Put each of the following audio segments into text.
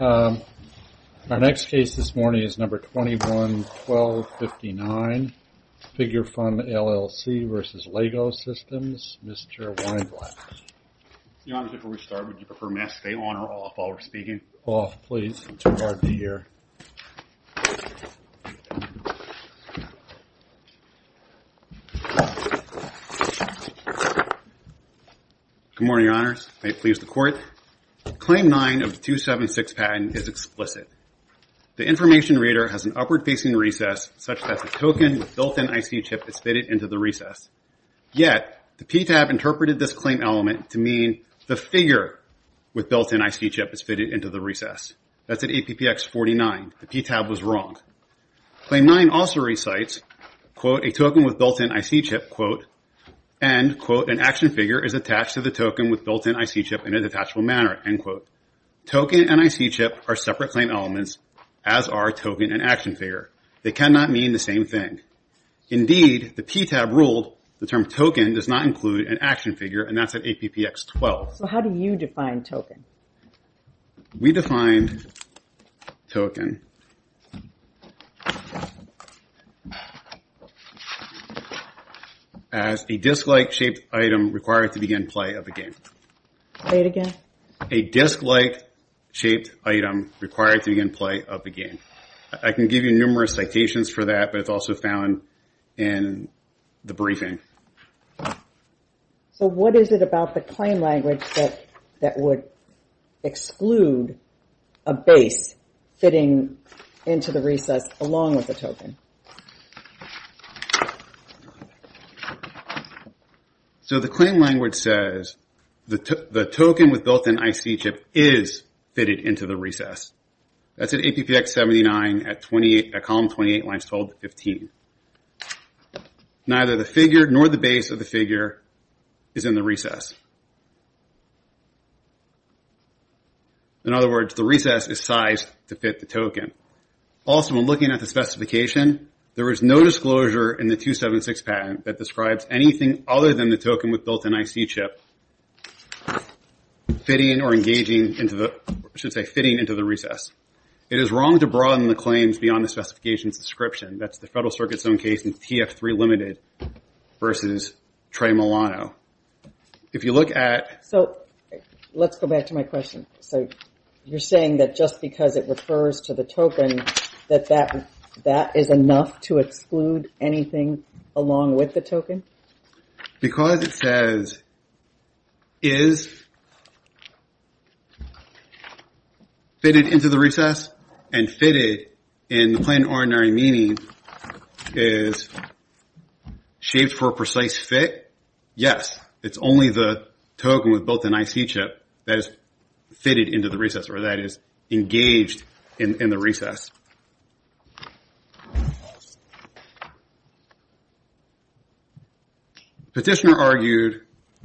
Our next case this morning is number 21-12-59, Figurefun LLC v. Lego Systems, Mr. Weinblatt. Your Honors, before we start, would you prefer me to stay on or off while we're speaking? Off, please. It's too hard to hear. Good morning, Your Honors. May it please the Court. Claim 9 of 276 patent is explicit. The information reader has an upward-facing recess such that the token with built-in IC chip is fitted into the recess. Yet, the PTAB interpreted this claim element to mean the figure with built-in IC chip is fitted into the recess. That's at APPX 49. The PTAB was wrong. Claim 9 also recites, quote, a token with built-in IC chip, quote, and, quote, an action figure is attached to the token with built-in IC chip in a detachable manner, end quote. Token and IC chip are separate claim elements, as are token and action figure. They cannot mean the same thing. Indeed, the PTAB ruled the term token does not include an action figure, and that's at APPX 12. So how do you define token? We define token as a disc-like shaped item required to begin play of a game. Say it again. A disc-like shaped item required to begin play of a game. I can give you numerous citations for that, but it's also found in the briefing. So what is it about the claim language that would exclude a base fitting into the recess along with the token? So the claim language says the token with built-in IC chip is fitted into the recess. That's at APPX 79 at column 28, lines 12 to 15. Neither the figure nor the base of the figure is in the recess. In other words, the recess is sized to fit the token. Also, when looking at the specification, there is no disclosure in the 276 patent that describes anything other than the token with built-in IC chip fitting or engaging into the, I should say fitting into the recess. It is wrong to broaden the claims beyond the specification's description. That's the Federal Circuit's own case in TF3 Limited versus Trey Milano. If you look at... So let's go back to my question. So you're saying that just because it refers to the token, that that is enough to exclude anything along with the token? Because it says is fitted into the recess and fitted in the plain and ordinary meaning is shaped for a precise fit, yes, it's only the token with built-in IC chip that is fitted into the recess or that is engaged in the recess. Petitioner argued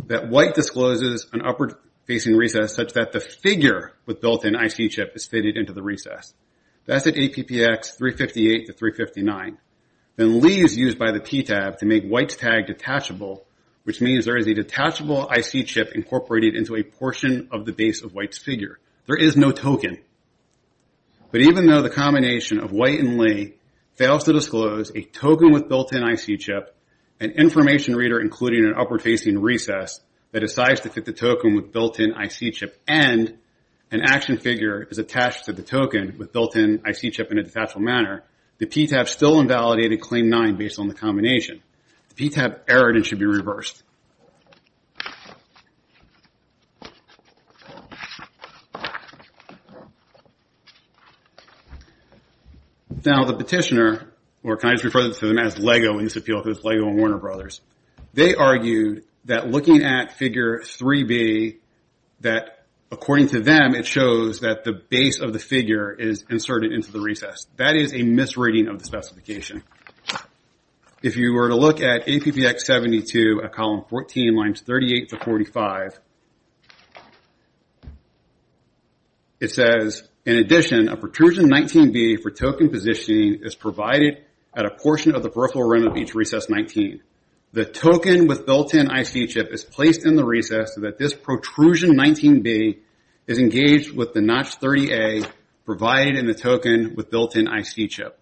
that White discloses an upward-facing recess such that the figure with built-in IC chip is fitted into the recess. That's at APPX 358 to 359. Then Lee is used by the TTAB to make White's tag detachable, which means there is a detachable IC chip incorporated into a portion of the base of White's figure. There is no token. But even though the combination of White and Lee fails to disclose a token with built-in IC chip and information reader including an upward-facing recess that decides to fit the token with built-in IC chip and an action figure is attached to the token with built-in IC chip in a detachable manner, the TTAB still invalidated Claim 9 based on the combination. The TTAB erred and should be reversed. Now the Petitioner, or can I just refer to them as LEGO in this appeal because it's LEGO and Warner Brothers, they argued that looking at figure 3B, that according to them it shows that the base of the figure is inserted into the recess. That is a misreading of the specification. If you were to look at APPX 72, a column B, column 14, lines 38 to 45, it says, in addition, a protrusion 19B for token positioning is provided at a portion of the peripheral rim of each recess 19. The token with built-in IC chip is placed in the recess so that this protrusion 19B is engaged with the notch 30A provided in the token with built-in IC chip.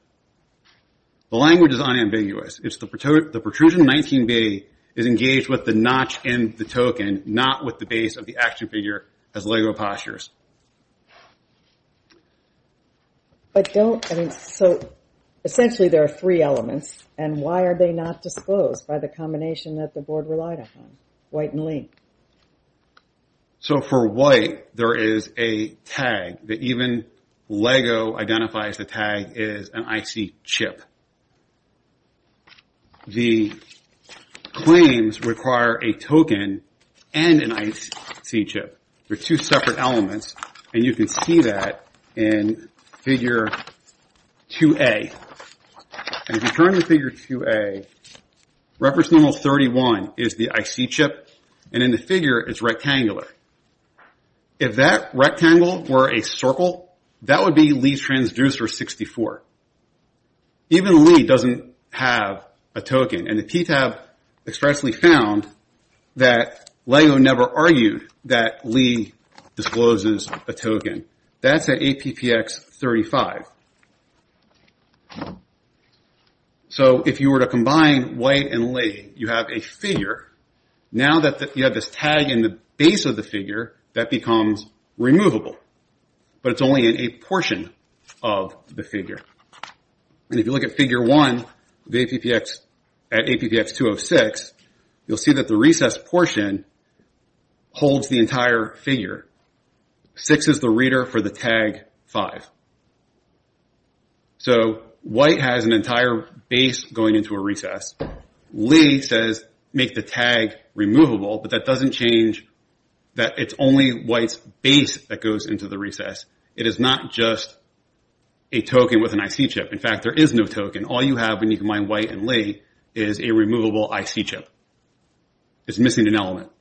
The language is unambiguous. It's the protrusion 19B is engaged with the notch in the token, not with the base of the action figure as LEGO postures. So essentially there are three elements, and why are they not disclosed by the combination that the board relied upon, white and link? So for white, there is a tag that even LEGO identifies the tag is an IC chip. The claims require a token and an IC chip. They're two separate elements, and you can see that in figure 2A. And if you turn the figure 2A, reference number 31 is the IC chip, and in the figure it's rectangular. If that rectangle were a circle, that would be Lee's transducer 64. Even Lee doesn't have a token, and the PTAB expressly found that LEGO never argued that Lee discloses a token. That's at APPX 35. So if you were to combine white and Lee, you have a figure. Now that you have this tag in the base of the figure, that becomes removable, but it's only in a portion of the figure. And if you look at figure 1 at APPX 206, you'll see that the recessed portion holds the entire figure. 6 is the reader for the tag 5. So white has an entire base going into a recess. Lee says make the tag removable, but that doesn't change that it's only white's base that goes into the recess. It is not just a token with an IC chip. In fact, there is no token. All you have when you combine white and Lee is a removable IC chip. It's missing an element.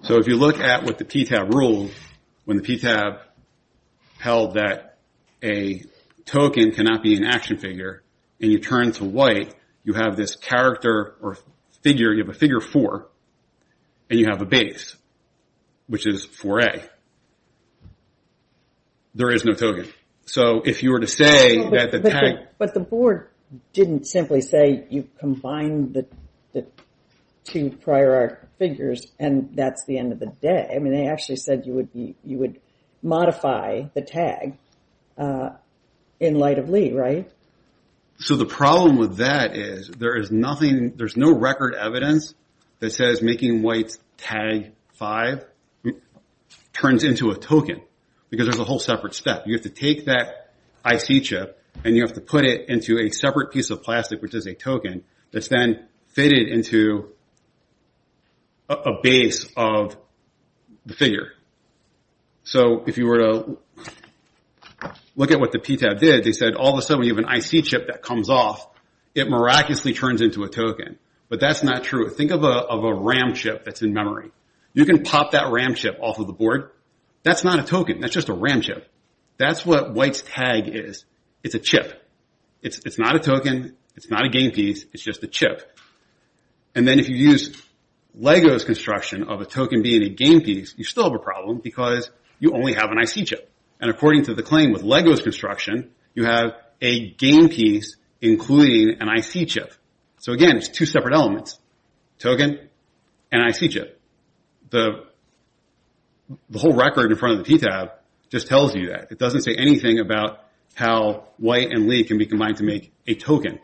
So if you look at what the PTAB ruled, when the PTAB held that a token cannot be an action figure, and you turn to white, you have this character or figure, you have a figure 4, and you have a base, which is 4A. There is no token. So if you were to say that the tag... But the board didn't simply say you combined the two prior art figures, and that's the end of the day. I mean, they actually said you would modify the tag in light of Lee, right? So the problem with that is there is nothing, there's no record evidence that says making white's tag 5 turns into a token, because there's a whole separate step. You have to take that IC chip, and you have to put it into a separate piece of plastic, which is a token, that's then fitted into a base of the figure. So if you were to look at what the PTAB did, they said all of a sudden you have an IC chip that comes off. It miraculously turns into a token. But that's not true. Think of a RAM chip that's in memory. You can pop that RAM chip off of the board. That's not a token. That's just a RAM chip. That's what white's tag is. It's a chip. It's not a token. It's not a game piece. It's just a chip. And then if you use LEGO's construction of a token being a game piece, you still have a problem, because you only have an IC chip. And according to the claim with LEGO's construction, you have a game piece including an IC chip. So, again, it's two separate elements, token and IC chip. The whole record in front of the PTAB just tells you that. It doesn't say anything about how white and lead can be combined to make a token.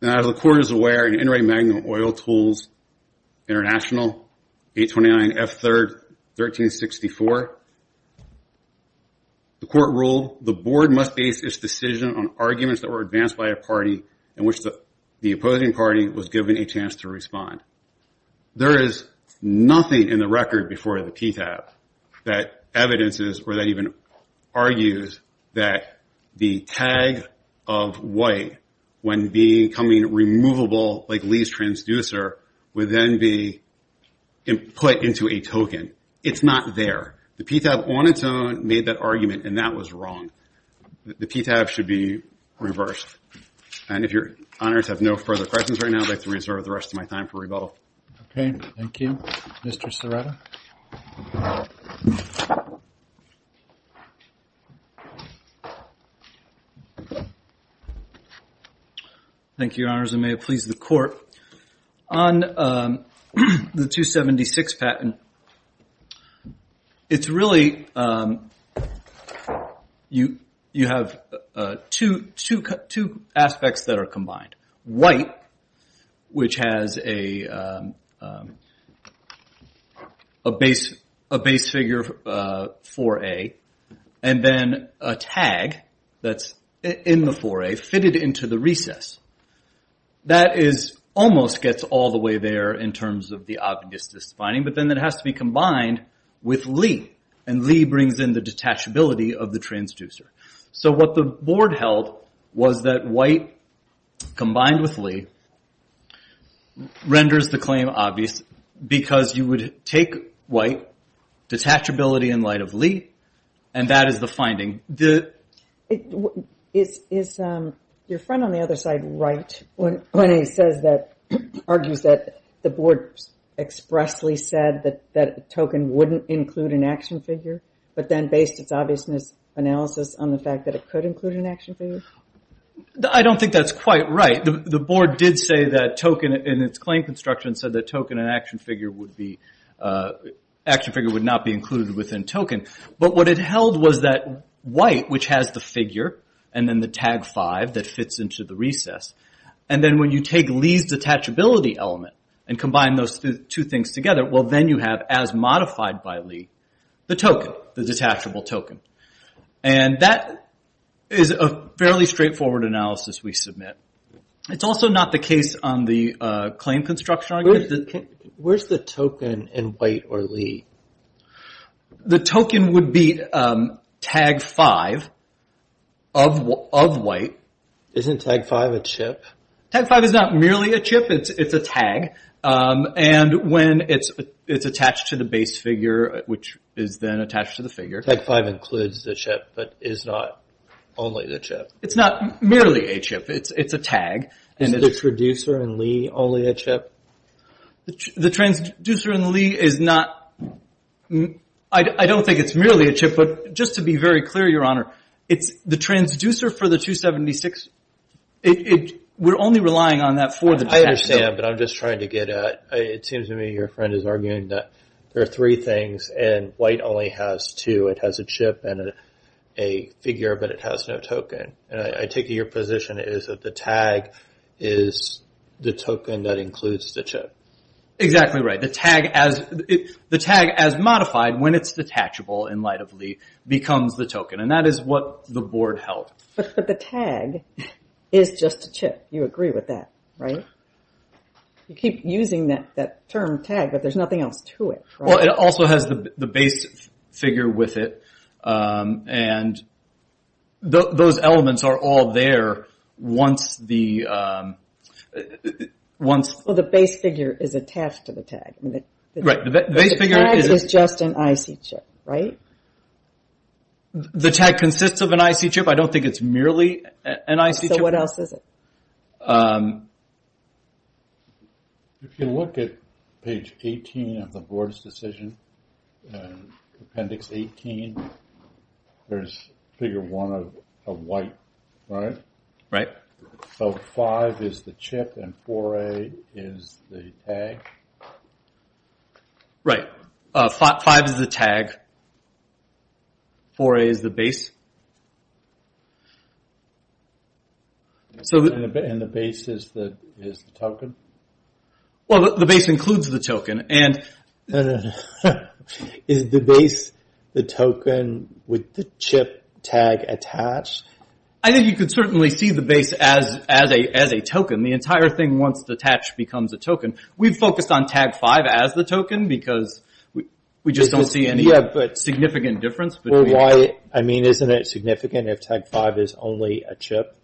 Now, as the court is aware, in Inright Magnum Oil Tools International, 829F3, 1364, the court ruled, the board must base its decision on arguments that were advanced by a party in which the opposing party was given a chance to respond. There is nothing in the record before the PTAB that evidences or that even argues that the tag of white, when becoming removable like Lee's transducer, would then be put into a token. It's not there. The PTAB on its own made that argument, and that was wrong. The PTAB should be reversed. And if your honors have no further questions right now, I'd like to reserve the rest of my time for rebuttal. Okay. Thank you. Mr. Serrato. Thank you, your honors. I may have pleased the court. On the 276 patent, it's really, you have two aspects that are combined. White, which has a base figure 4A, and then a tag that's in the 4A, fitted into the recess. That almost gets all the way there in terms of the obvious defining, but then it has to be combined with Lee. And Lee brings in the detachability of the transducer. So what the board held was that white combined with Lee renders the claim obvious because you would take white, detachability in light of Lee, and that is the finding. Is your friend on the other side right when he says that, the board expressly said that token wouldn't include an action figure, but then based its obviousness analysis on the fact that it could include an action figure? I don't think that's quite right. The board did say that token, in its claim construction, said that token and action figure would be, action figure would not be included within token. But what it held was that white, which has the figure, and then the tag 5 that fits into the recess. And then when you take Lee's detachability element and combine those two things together, well then you have, as modified by Lee, the token, the detachable token. And that is a fairly straightforward analysis we submit. It's also not the case on the claim construction. Where's the token in white or Lee? The token would be tag 5 of white. Isn't tag 5 a chip? Tag 5 is not merely a chip, it's a tag. And when it's attached to the base figure, which is then attached to the figure. Tag 5 includes the chip, but is not only the chip. It's not merely a chip, it's a tag. Is the traducer in Lee only a chip? The traducer in Lee is not, I don't think it's merely a chip, but just to be very clear, Your Honor, it's the traducer for the 276, we're only relying on that for the detachment. I understand, but I'm just trying to get at, it seems to me your friend is arguing that there are three things, and white only has two. It has a chip and a figure, but it has no token. And I take it your position is that the tag is the token that includes the chip. Exactly right. The tag as modified, when it's detachable in light of Lee, becomes the token. And that is what the board held. But the tag is just a chip. You agree with that, right? You keep using that term tag, but there's nothing else to it, right? Well, it also has the base figure with it, and those elements are all there once the... Well, the base figure is attached to the tag. The tag is just an IC chip, right? The tag consists of an IC chip. I don't think it's merely an IC chip. So what else is it? If you look at page 18 of the board's decision, appendix 18, there's figure one of white, right? Right. So five is the chip and 4A is the tag? Right. Five is the tag. 4A is the base. And the base is the token? Well, the base includes the token. Is the base the token with the chip tag attached? I think you could certainly see the base as a token. The entire thing, once attached, becomes a token. We've focused on tag five as the token, because we just don't see any significant difference. Well, why? I mean, isn't it significant if tag five is only a chip,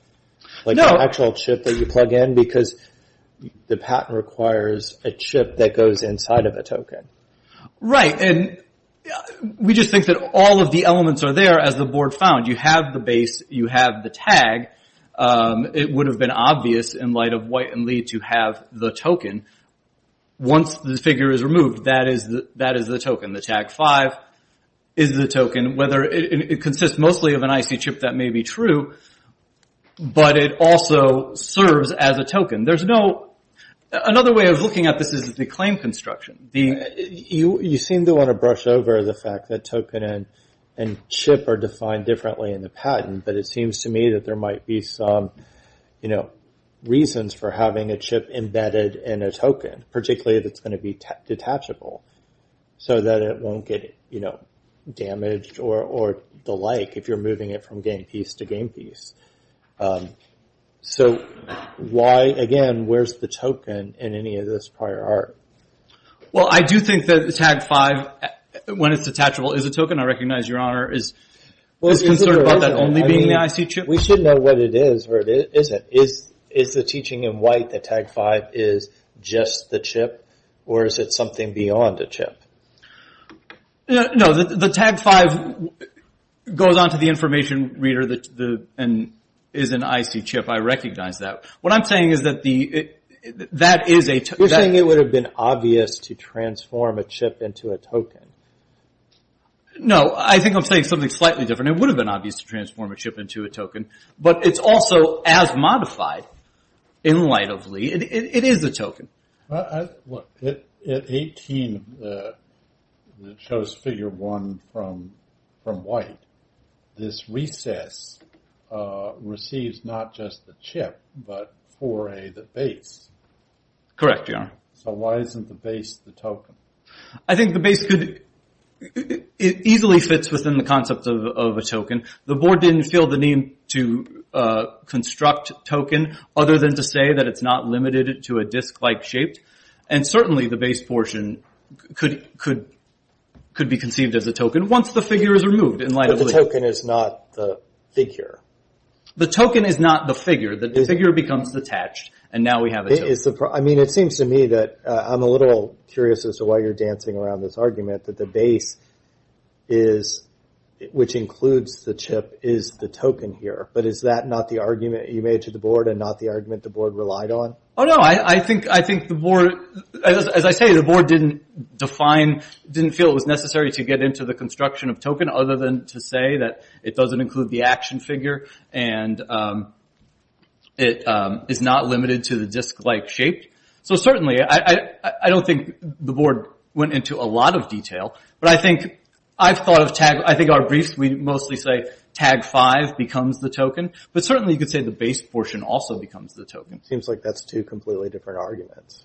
like the actual chip that you plug in? Because the patent requires a chip that goes inside of a token. Right. And we just think that all of the elements are there, as the board found. You have the base. You have the tag. It would have been obvious, in light of white and lead, to have the token. Once the figure is removed, that is the token. The tag five is the token. It consists mostly of an IC chip. That may be true. But it also serves as a token. Another way of looking at this is the claim construction. You seem to want to brush over the fact that token and chip are defined differently in the patent, but it seems to me that there might be some reasons for having a chip embedded in a token, particularly if it's going to be detachable, so that it won't get damaged or the like if you're moving it from game piece to game piece. So why, again, where's the token in any of this prior art? Well, I do think that the tag five, when it's detachable, is a token. I recognize, Your Honor, is concerned about that only being the IC chip. We should know what it is or what it isn't. Is the teaching in white that tag five is just the chip, or is it something beyond a chip? No, the tag five goes on to the information reader and is an IC chip. I recognize that. What I'm saying is that that is a token. You're saying it would have been obvious to transform a chip into a token. No, I think I'm saying something slightly different. It would have been obvious to transform a chip into a token, but it's also, as modified, in light of Lee, it is a token. At 18, it shows figure one from white. This recess receives not just the chip, but 4A, the base. Correct, Your Honor. So why isn't the base the token? I think the base could easily fit within the concept of a token. The board didn't feel the need to construct token, other than to say that it's not limited to a disk-like shape. And certainly the base portion could be conceived as a token, once the figure is removed in light of Lee. But the token is not the figure. The token is not the figure. The figure becomes detached, and now we have a chip. I mean, it seems to me that I'm a little curious as to why you're dancing around this argument, that the base, which includes the chip, is the token here. But is that not the argument you made to the board, and not the argument the board relied on? Oh, no. I think the board, as I say, the board didn't define, didn't feel it was necessary to get into the construction of token, other than to say that it doesn't include the action figure, and it is not limited to the disk-like shape. So certainly, I don't think the board went into a lot of detail. But I think our briefs, we mostly say tag five becomes the token. But certainly you could say the base portion also becomes the token. Seems like that's two completely different arguments.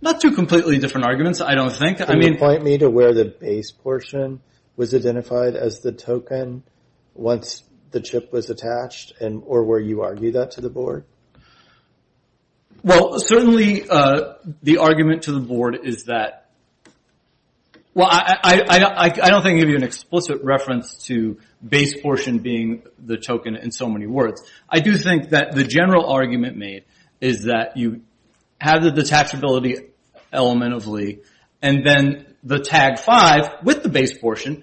Not two completely different arguments, I don't think. Can you point me to where the base portion was identified as the token, once the chip was attached, or where you argue that to the board? Well, certainly the argument to the board is that, well, I don't think I can give you an explicit reference to base portion being the token in so many words. I do think that the general argument made is that you have the detachability element of Lee, and then the tag five with the base portion,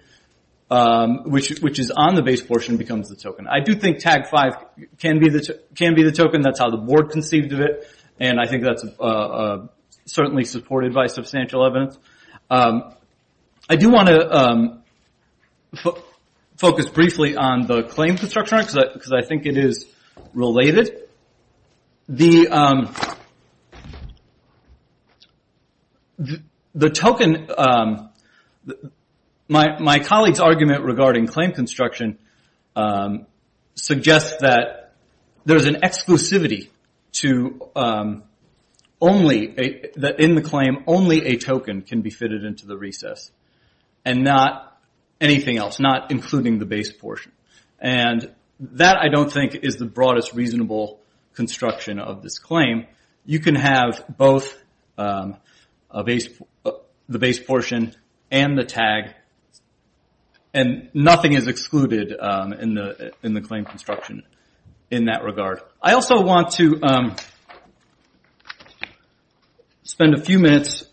which is on the base portion, becomes the token. I do think tag five can be the token. That's how the board conceived of it. And I think that's certainly supported by substantial evidence. I do want to focus briefly on the claim construction argument, because I think it is related. The token, my colleague's argument regarding claim construction, suggests that there's an exclusivity that in the claim only a token can be fitted into the recess, and not anything else, not including the base portion. That, I don't think, is the broadest reasonable construction of this claim. You can have both the base portion and the tag, and nothing is excluded in the claim construction in that regard. I also want to spend a few minutes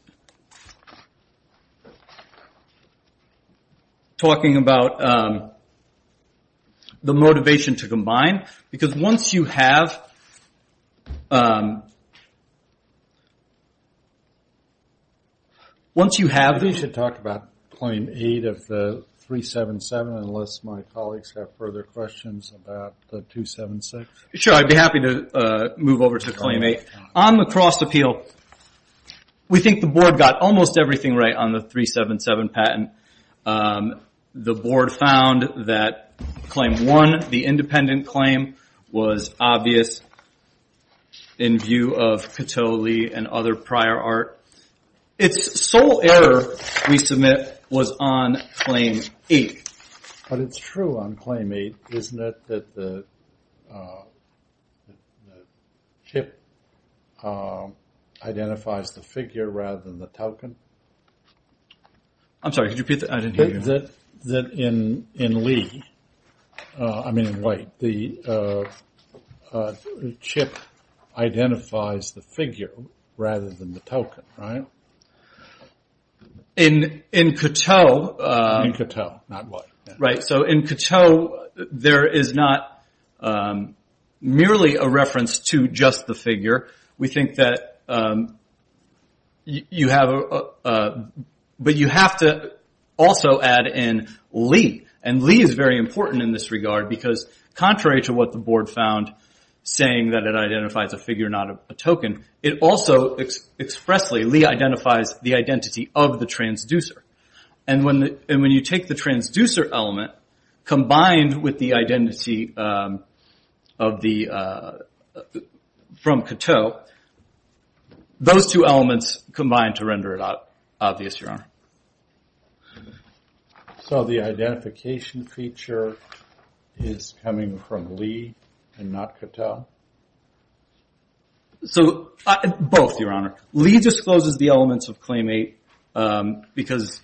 talking about the motivation to combine, because once you have... I think you should talk about claim eight of the 377, unless my colleagues have further questions about the 276. Sure, I'd be happy to move over to claim eight. On the cross appeal, we think the board got almost everything right on the 377 patent. The board found that claim one, the independent claim, was obvious in view of Cato, Lee, and other prior art. Its sole error, we submit, was on claim eight. But it's true on claim eight, isn't it, that the chip identifies the figure rather than the token? I'm sorry, could you repeat that? I didn't hear you. You're saying that in Lee, I mean in White, the chip identifies the figure rather than the token, right? In Cato... In Cato, not White. Right, so in Cato, there is not merely a reference to just the figure. We think that you have... But you have to also add in Lee. Lee is very important in this regard, because contrary to what the board found, saying that it identifies a figure, not a token, it also expressly, Lee identifies the identity of the transducer. When you take the transducer element, combined with the identity from Cato, those two elements combine to render it obvious, Your Honor. So the identification feature is coming from Lee and not Cato? Both, Your Honor. Lee discloses the elements of claim eight, because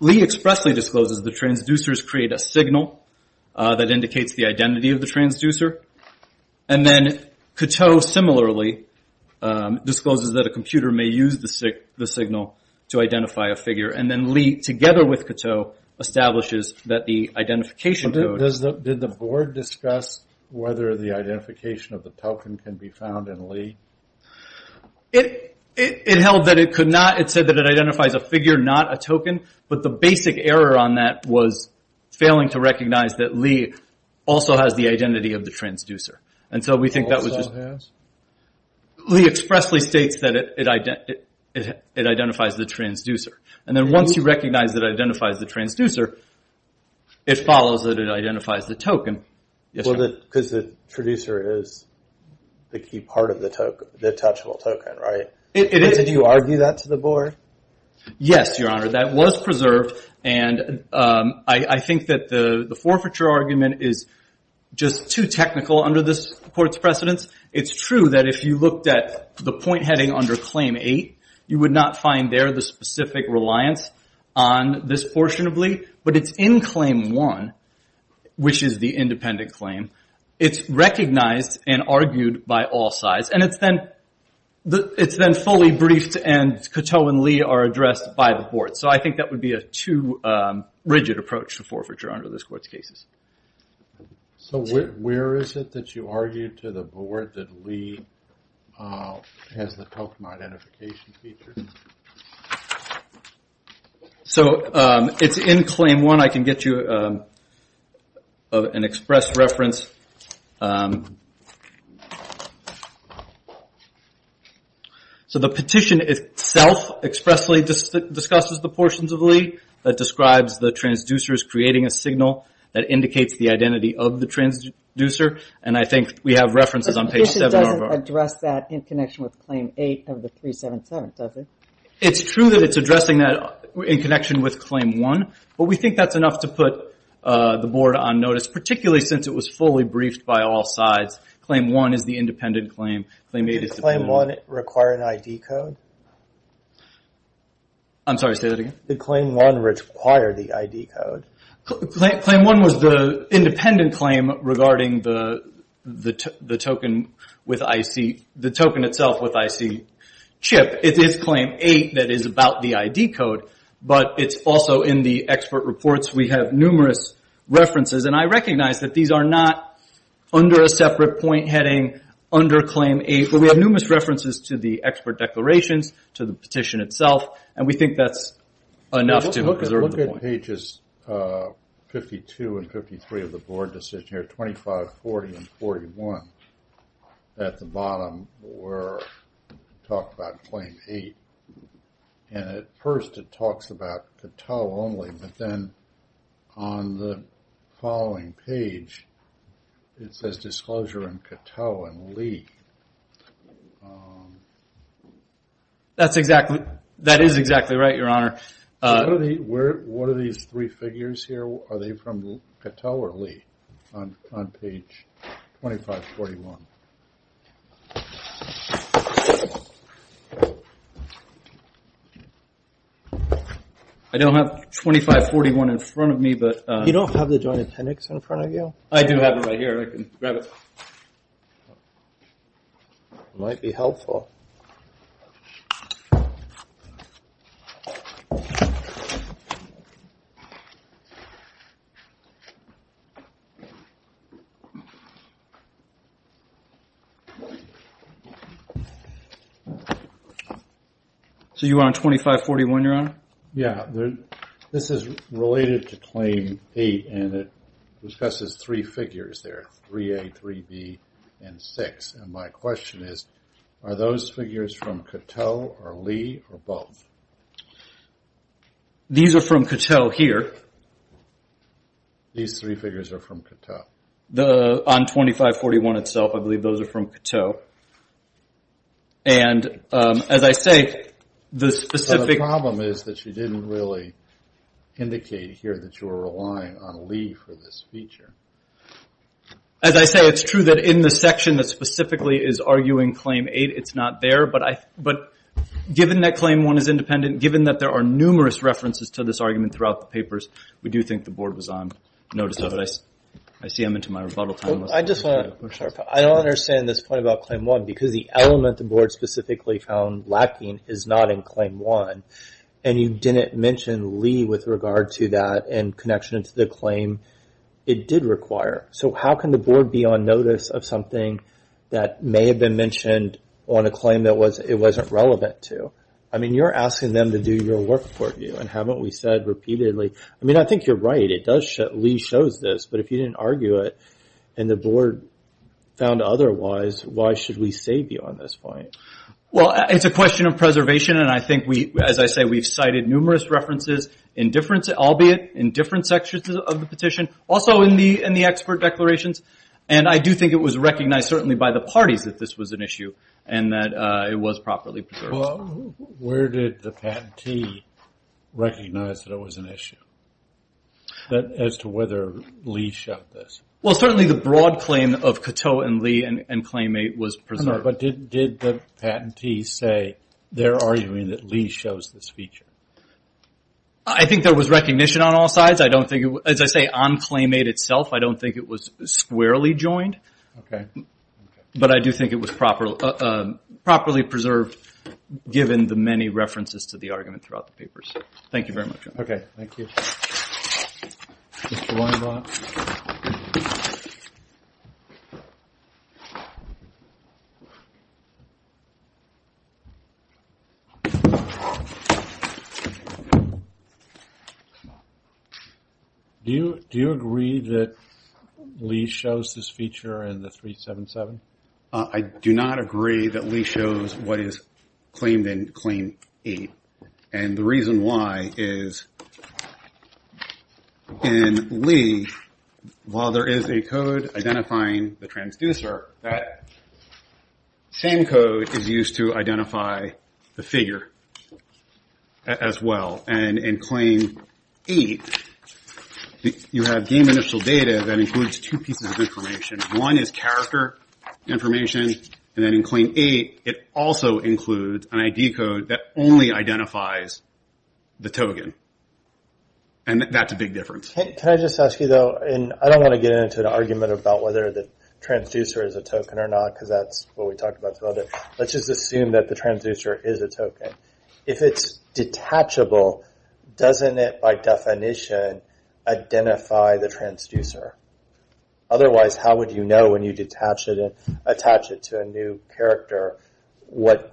Lee expressly discloses the transducers create a signal that indicates the identity of the transducer, and then Cato similarly discloses that a computer may use the signal to identify a figure, and then Lee, together with Cato, establishes that the identification code... Did the board discuss whether the identification of the token can be found in Lee? It held that it could not. It said that it identifies a figure, not a token, but the basic error on that was failing to recognize that Lee also has the identity of the transducer. Also has? Lee expressly states that it identifies the transducer, and then once you recognize that it identifies the transducer, it follows that it identifies the token. Because the transducer is the key part of the touchable token, right? Did you argue that to the board? Yes, Your Honor. That was preserved, and I think that the forfeiture argument is just too technical under this court's precedence. It's true that if you looked at the point heading under claim eight, you would not find there the specific reliance on this portion of Lee, but it's in claim one, which is the independent claim, it's recognized and argued by all sides, and it's then fully briefed and Cato and Lee are addressed by the board. So I think that would be a too rigid approach to forfeiture under this court's cases. So where is it that you argued to the board that Lee has the token identification feature? So it's in claim one. I can get you an express reference. So the petition itself expressly discusses the portions of Lee that describes the transducers creating a signal that indicates the identity of the transducer, and I think we have references on page seven. It doesn't address that in connection with claim eight of the 377, does it? It's true that it's addressing that in connection with claim one, but we think that's enough to put the board on notice, particularly since it was fully briefed by all sides. Claim one is the independent claim. Did claim one require an ID code? I'm sorry, say that again? Did claim one require the ID code? Claim one was the independent claim regarding the token itself with IC chip. It's claim eight that is about the ID code, but it's also in the expert reports. We have numerous references, and I recognize that these are not under a separate point heading under claim eight, but we have numerous references to the expert declarations, to the petition itself, and we think that's enough to preserve the point. On pages 52 and 53 of the board decision here, 25, 40, and 41, at the bottom we're talking about claim eight, and at first it talks about Cato only, but then on the following page it says disclosure in Cato and Lee. That is exactly right, your honor. What are these three figures here? Are they from Cato or Lee on page 25, 41? I don't have 25, 41 in front of me. You don't have the joint appendix in front of you? I do have it right here. I can grab it. Might be helpful. Okay. So you're on 25, 41, your honor? Yeah. This is related to claim eight, and it discusses three figures there, 3A, 3B, and 6. And my question is, are those figures from Cato or Lee or both? These are from Cato here. These three figures are from Cato? On 25, 41 itself, I believe those are from Cato. And as I say, the specific – But the problem is that you didn't really indicate here that you were relying on Lee for this feature. As I say, it's true that in the section that specifically is arguing claim eight, it's not there. But given that claim one is independent, given that there are numerous references to this argument throughout the papers, we do think the board was on notice of it. I see I'm into my rebuttal time. I don't understand this point about claim one, because the element the board specifically found lacking is not in claim one. And you didn't mention Lee with regard to that in connection to the claim. It did require. So how can the board be on notice of something that may have been mentioned on a claim that it wasn't relevant to? I mean, you're asking them to do your work for you. And haven't we said repeatedly – I mean, I think you're right. Lee shows this. But if you didn't argue it and the board found otherwise, why should we save you on this point? Well, it's a question of preservation. And I think, as I say, we've cited numerous references, albeit in different sections of the petition, also in the expert declarations. And I do think it was recognized, certainly by the parties, that this was an issue and that it was properly preserved. Well, where did the patentee recognize that it was an issue, as to whether Lee showed this? Well, certainly the broad claim of Coteau and Lee and claim eight was preserved. But did the patentee say they're arguing that Lee shows this feature? I think there was recognition on all sides. As I say, on claim eight itself, I don't think it was squarely joined. Okay. But I do think it was properly preserved, given the many references to the argument throughout the papers. Thank you very much. Okay. Thank you. Do you agree that Lee shows this feature in the 377? I do not agree that Lee shows what is claimed in claim eight. And the reason why is, in Lee, while there is a code identifying the transducer, that same code is used to identify the figure as well. And in claim eight, you have game initial data that includes two pieces of information. One is character information. And then in claim eight, it also includes an ID code that only identifies the token. And that's a big difference. Can I just ask you, though, and I don't want to get into an argument about whether the transducer is a token or not, because that's what we talked about. Let's just assume that the transducer is a token. If it's detachable, doesn't it, by definition, identify the transducer? Otherwise, how would you know when you attach it to a new character what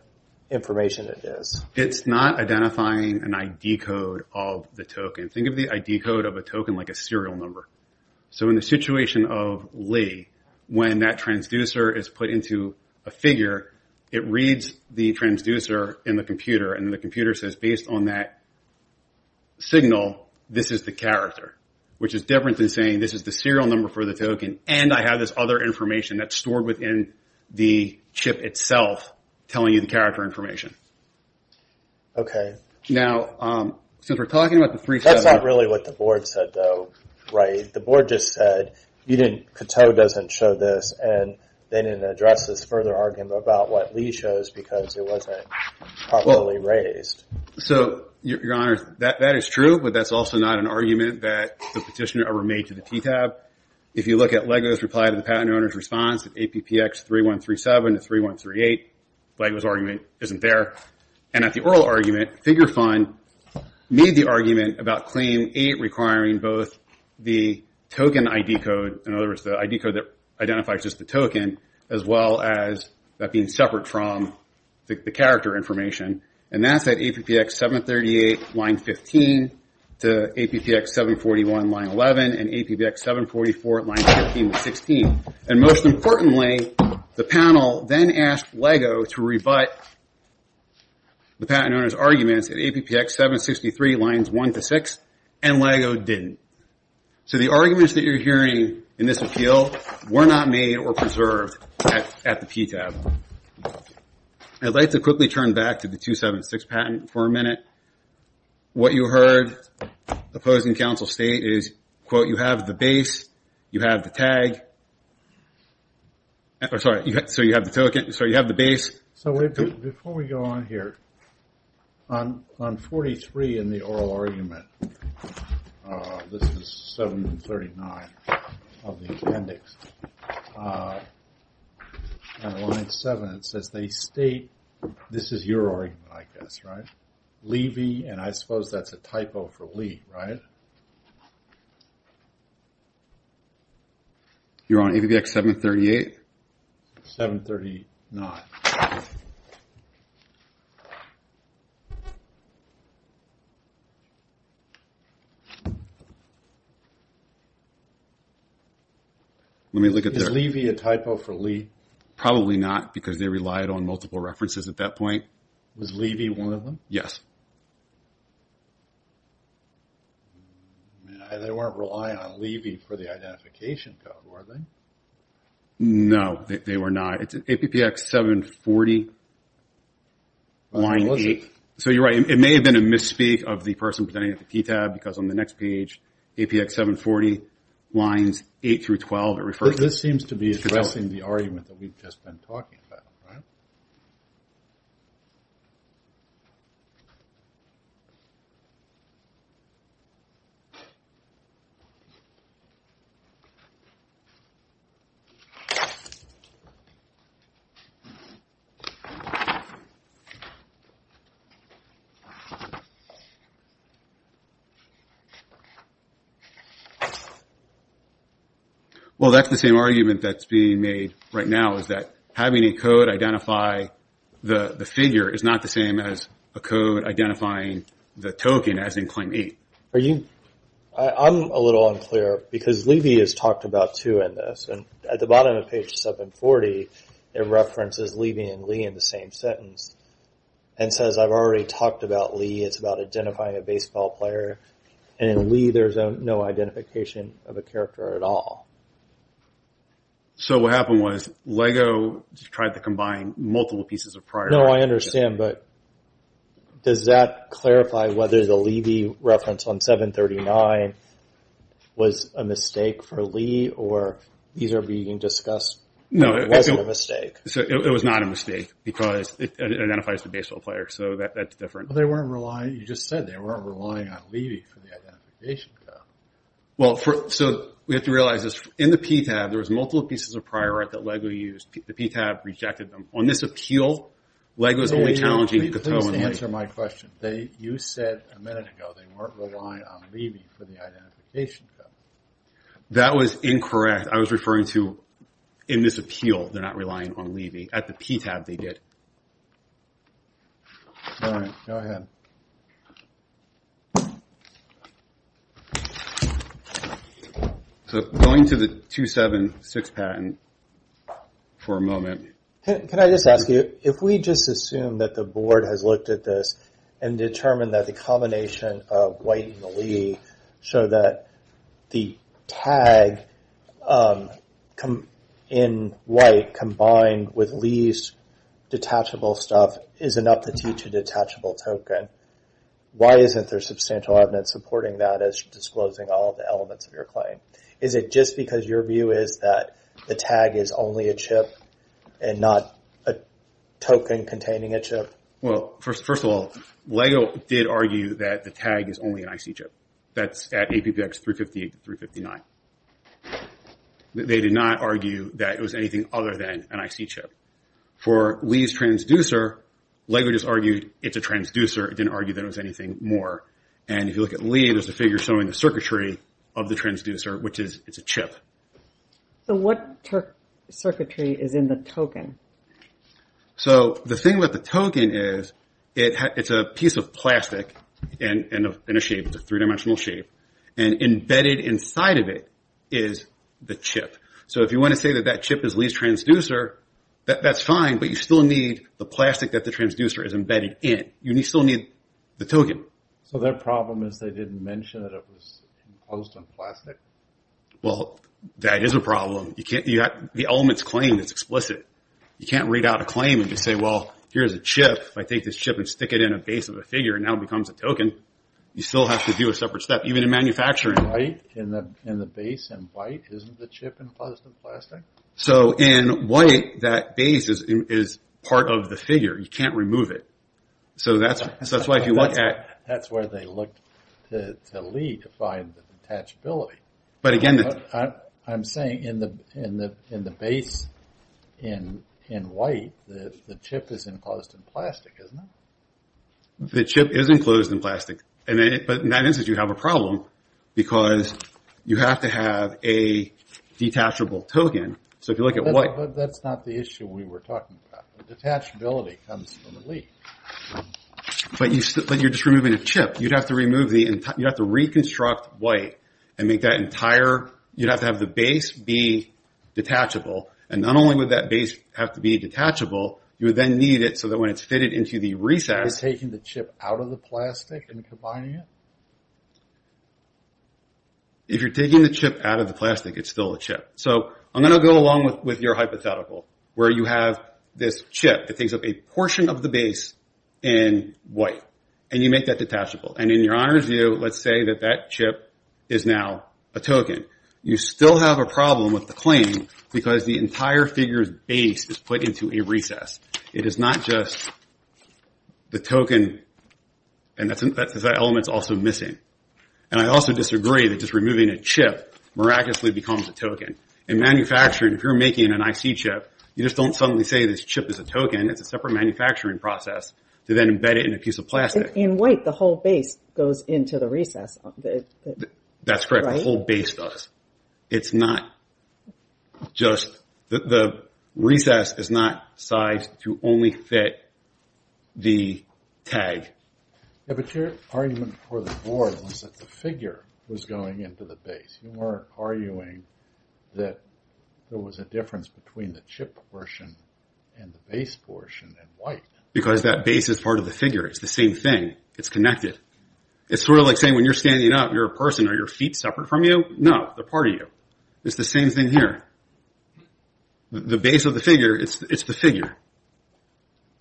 information it is? It's not identifying an ID code of the token. Think of the ID code of a token like a serial number. So in the situation of Lee, when that transducer is put into a figure, it reads the transducer in the computer, and the computer says, based on that signal, this is the character, which is different than saying this is the serial number for the token, and I have this other information that's stored within the chip itself telling you the character information. Okay. That's not really what the board said, though, right? The board just said, Kato doesn't show this, and they didn't address this further argument about what Lee shows because it wasn't properly raised. So, Your Honor, that is true, but that's also not an argument that the petitioner ever made to the TTAB. If you look at LEGO's reply to the patent owner's response, APPX 3137 to 3138, LEGO's argument isn't there. And at the oral argument, Figure Fund made the argument about Claim 8 requiring both the token ID code, in other words, the ID code that identifies just the token, as well as that being separate from the character information. And that's at APPX 738, line 15, to APPX 741, line 11, and APPX 744, line 15 to 16. And most importantly, the panel then asked LEGO to rebut the patent owner's arguments at APPX 763, lines 1 to 6, and LEGO didn't. So the arguments that you're hearing in this appeal were not made or preserved at the TTAB. I'd like to quickly turn back to the 276 patent for a minute. What you heard opposing counsel state is, quote, you have the base, you have the tag, so you have the token, so you have the base. So before we go on here, on 43 in the oral argument, this is 739 of the appendix, on line 7 it says they state, this is your argument, I guess, right? Levy, and I suppose that's a typo for Lee, right? You're on APPX 738? 739. Let me look at that. Is Levy a typo for Lee? Probably not, because they relied on multiple references at that point. Was Levy one of them? Yes. They weren't relying on Levy for the identification code, were they? No, they were not. It's APPX 740, line 8. So you're right, it may have been a misspeak of the person presenting at the TTAB, because on the next page, APPX 740, lines 8 through 12, it refers to. This seems to be addressing the argument that we've just been talking about, right? Well, that's the same argument that's being made right now, is that having a code identify the figure is not the same as a code identifying the token, as in claim 8. I'm a little unclear, because Levy is talked about too in this, and at the bottom of page 740, it references Levy and Lee in the same sentence, and says, I've already talked about Lee, it's about identifying a baseball player, and in Lee, there's no identification of a character at all. So what happened was, Lego tried to combine multiple pieces of prior. No, I understand, was a mistake for Lee, or these are being discussed, it wasn't a mistake. It was not a mistake, because it identifies the baseball player, so that's different. They weren't relying, you just said they weren't relying on Levy for the identification code. Well, so we have to realize this, in the PTAB, there was multiple pieces of prior that Lego used. The PTAB rejected them. On this appeal, Lego's only challenging Cato and Lee. Let me just answer my question. You said a minute ago, they weren't relying on Levy for the identification code. That was incorrect. I was referring to, in this appeal, they're not relying on Levy. At the PTAB, they did. All right, go ahead. Going to the 276 patent, for a moment. Can I just ask you, if we just assume that the board has looked at this, and determined that the combination of White and Lee, so that the tag in White, combined with Lee's detachable stuff, is enough to teach a detachable token, why isn't there substantial evidence supporting that as disclosing all the elements of your claim? Is it just because your view is that the tag is only a chip, and not a token containing a chip? Well, first of all, Lego did argue that the tag is only an IC chip. That's at APPX 358 to 359. They did not argue that it was anything other than an IC chip. For Lee's transducer, Lego just argued it's a transducer. It didn't argue that it was anything more. And if you look at Lee, there's a figure showing the circuitry of the transducer, which is it's a chip. So what circuitry is in the token? So the thing with the token is, it's a piece of plastic, in a shape, it's a three-dimensional shape, and embedded inside of it is the chip. So if you want to say that that chip is Lee's transducer, that's fine, but you still need the plastic that the transducer is embedded in. You still need the token. So their problem is they didn't mention that it was composed of plastic? Well, that is a problem. The element's claim is explicit. You can't read out a claim and just say, well, here's a chip. If I take this chip and stick it in a base of a figure, and now it becomes a token, you still have to do a separate step, even in manufacturing. In the base in white, isn't the chip enclosed in plastic? So in white, that base is part of the figure. You can't remove it. So that's why if you look at... That's where they looked to Lee to find the attachability. But again... I'm saying in the base in white, the chip is enclosed in plastic, isn't it? The chip is enclosed in plastic. But in that instance, you have a problem because you have to have a detachable token. So if you look at white... But that's not the issue we were talking about. Detachability comes from a leak. But you're just removing a chip. You'd have to reconstruct white and make that entire... You'd have to have the base be detachable. And not only would that base have to be detachable, you would then need it so that when it's fitted into the recess... You're taking the chip out of the plastic and combining it? If you're taking the chip out of the plastic, it's still a chip. So I'm going to go along with your hypothetical, where you have this chip that takes up a portion of the base in white, and you make that detachable. And in your honor's view, let's say that that chip is now a token. You still have a problem with the claim because the entire figure's base is put into a recess. It is not just the token. And that element's also missing. And I also disagree that just removing a chip miraculously becomes a token. In manufacturing, if you're making an IC chip, you just don't suddenly say this chip is a token. It's a separate manufacturing process to then embed it in a piece of plastic. In white, the whole base goes into the recess. That's correct. The whole base does. It's not just... The recess is not sized to only fit the tag. Yeah, but your argument for the board was that the figure was going into the base. You weren't arguing that there was a difference between the chip portion and the base portion in white. Because that base is part of the figure. It's the same thing. It's connected. It's sort of like saying when you're standing up, you're a person. Are your feet separate from you? No, they're part of you. It's the same thing here. The base of the figure, it's the figure.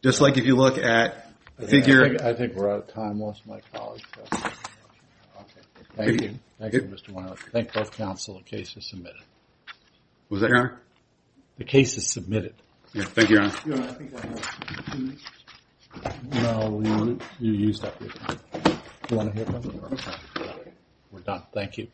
Just like if you look at the figure... I think we're out of time. I lost my colleague. Thank you. Thank you, Mr. Weiner. Thank both counsel. The case is submitted. Was that your honor? The case is submitted. Yeah, thank you, your honor. Your honor, I think we're out of time. No, you used up your time. Do you want to hear from him? We're done. Thank you.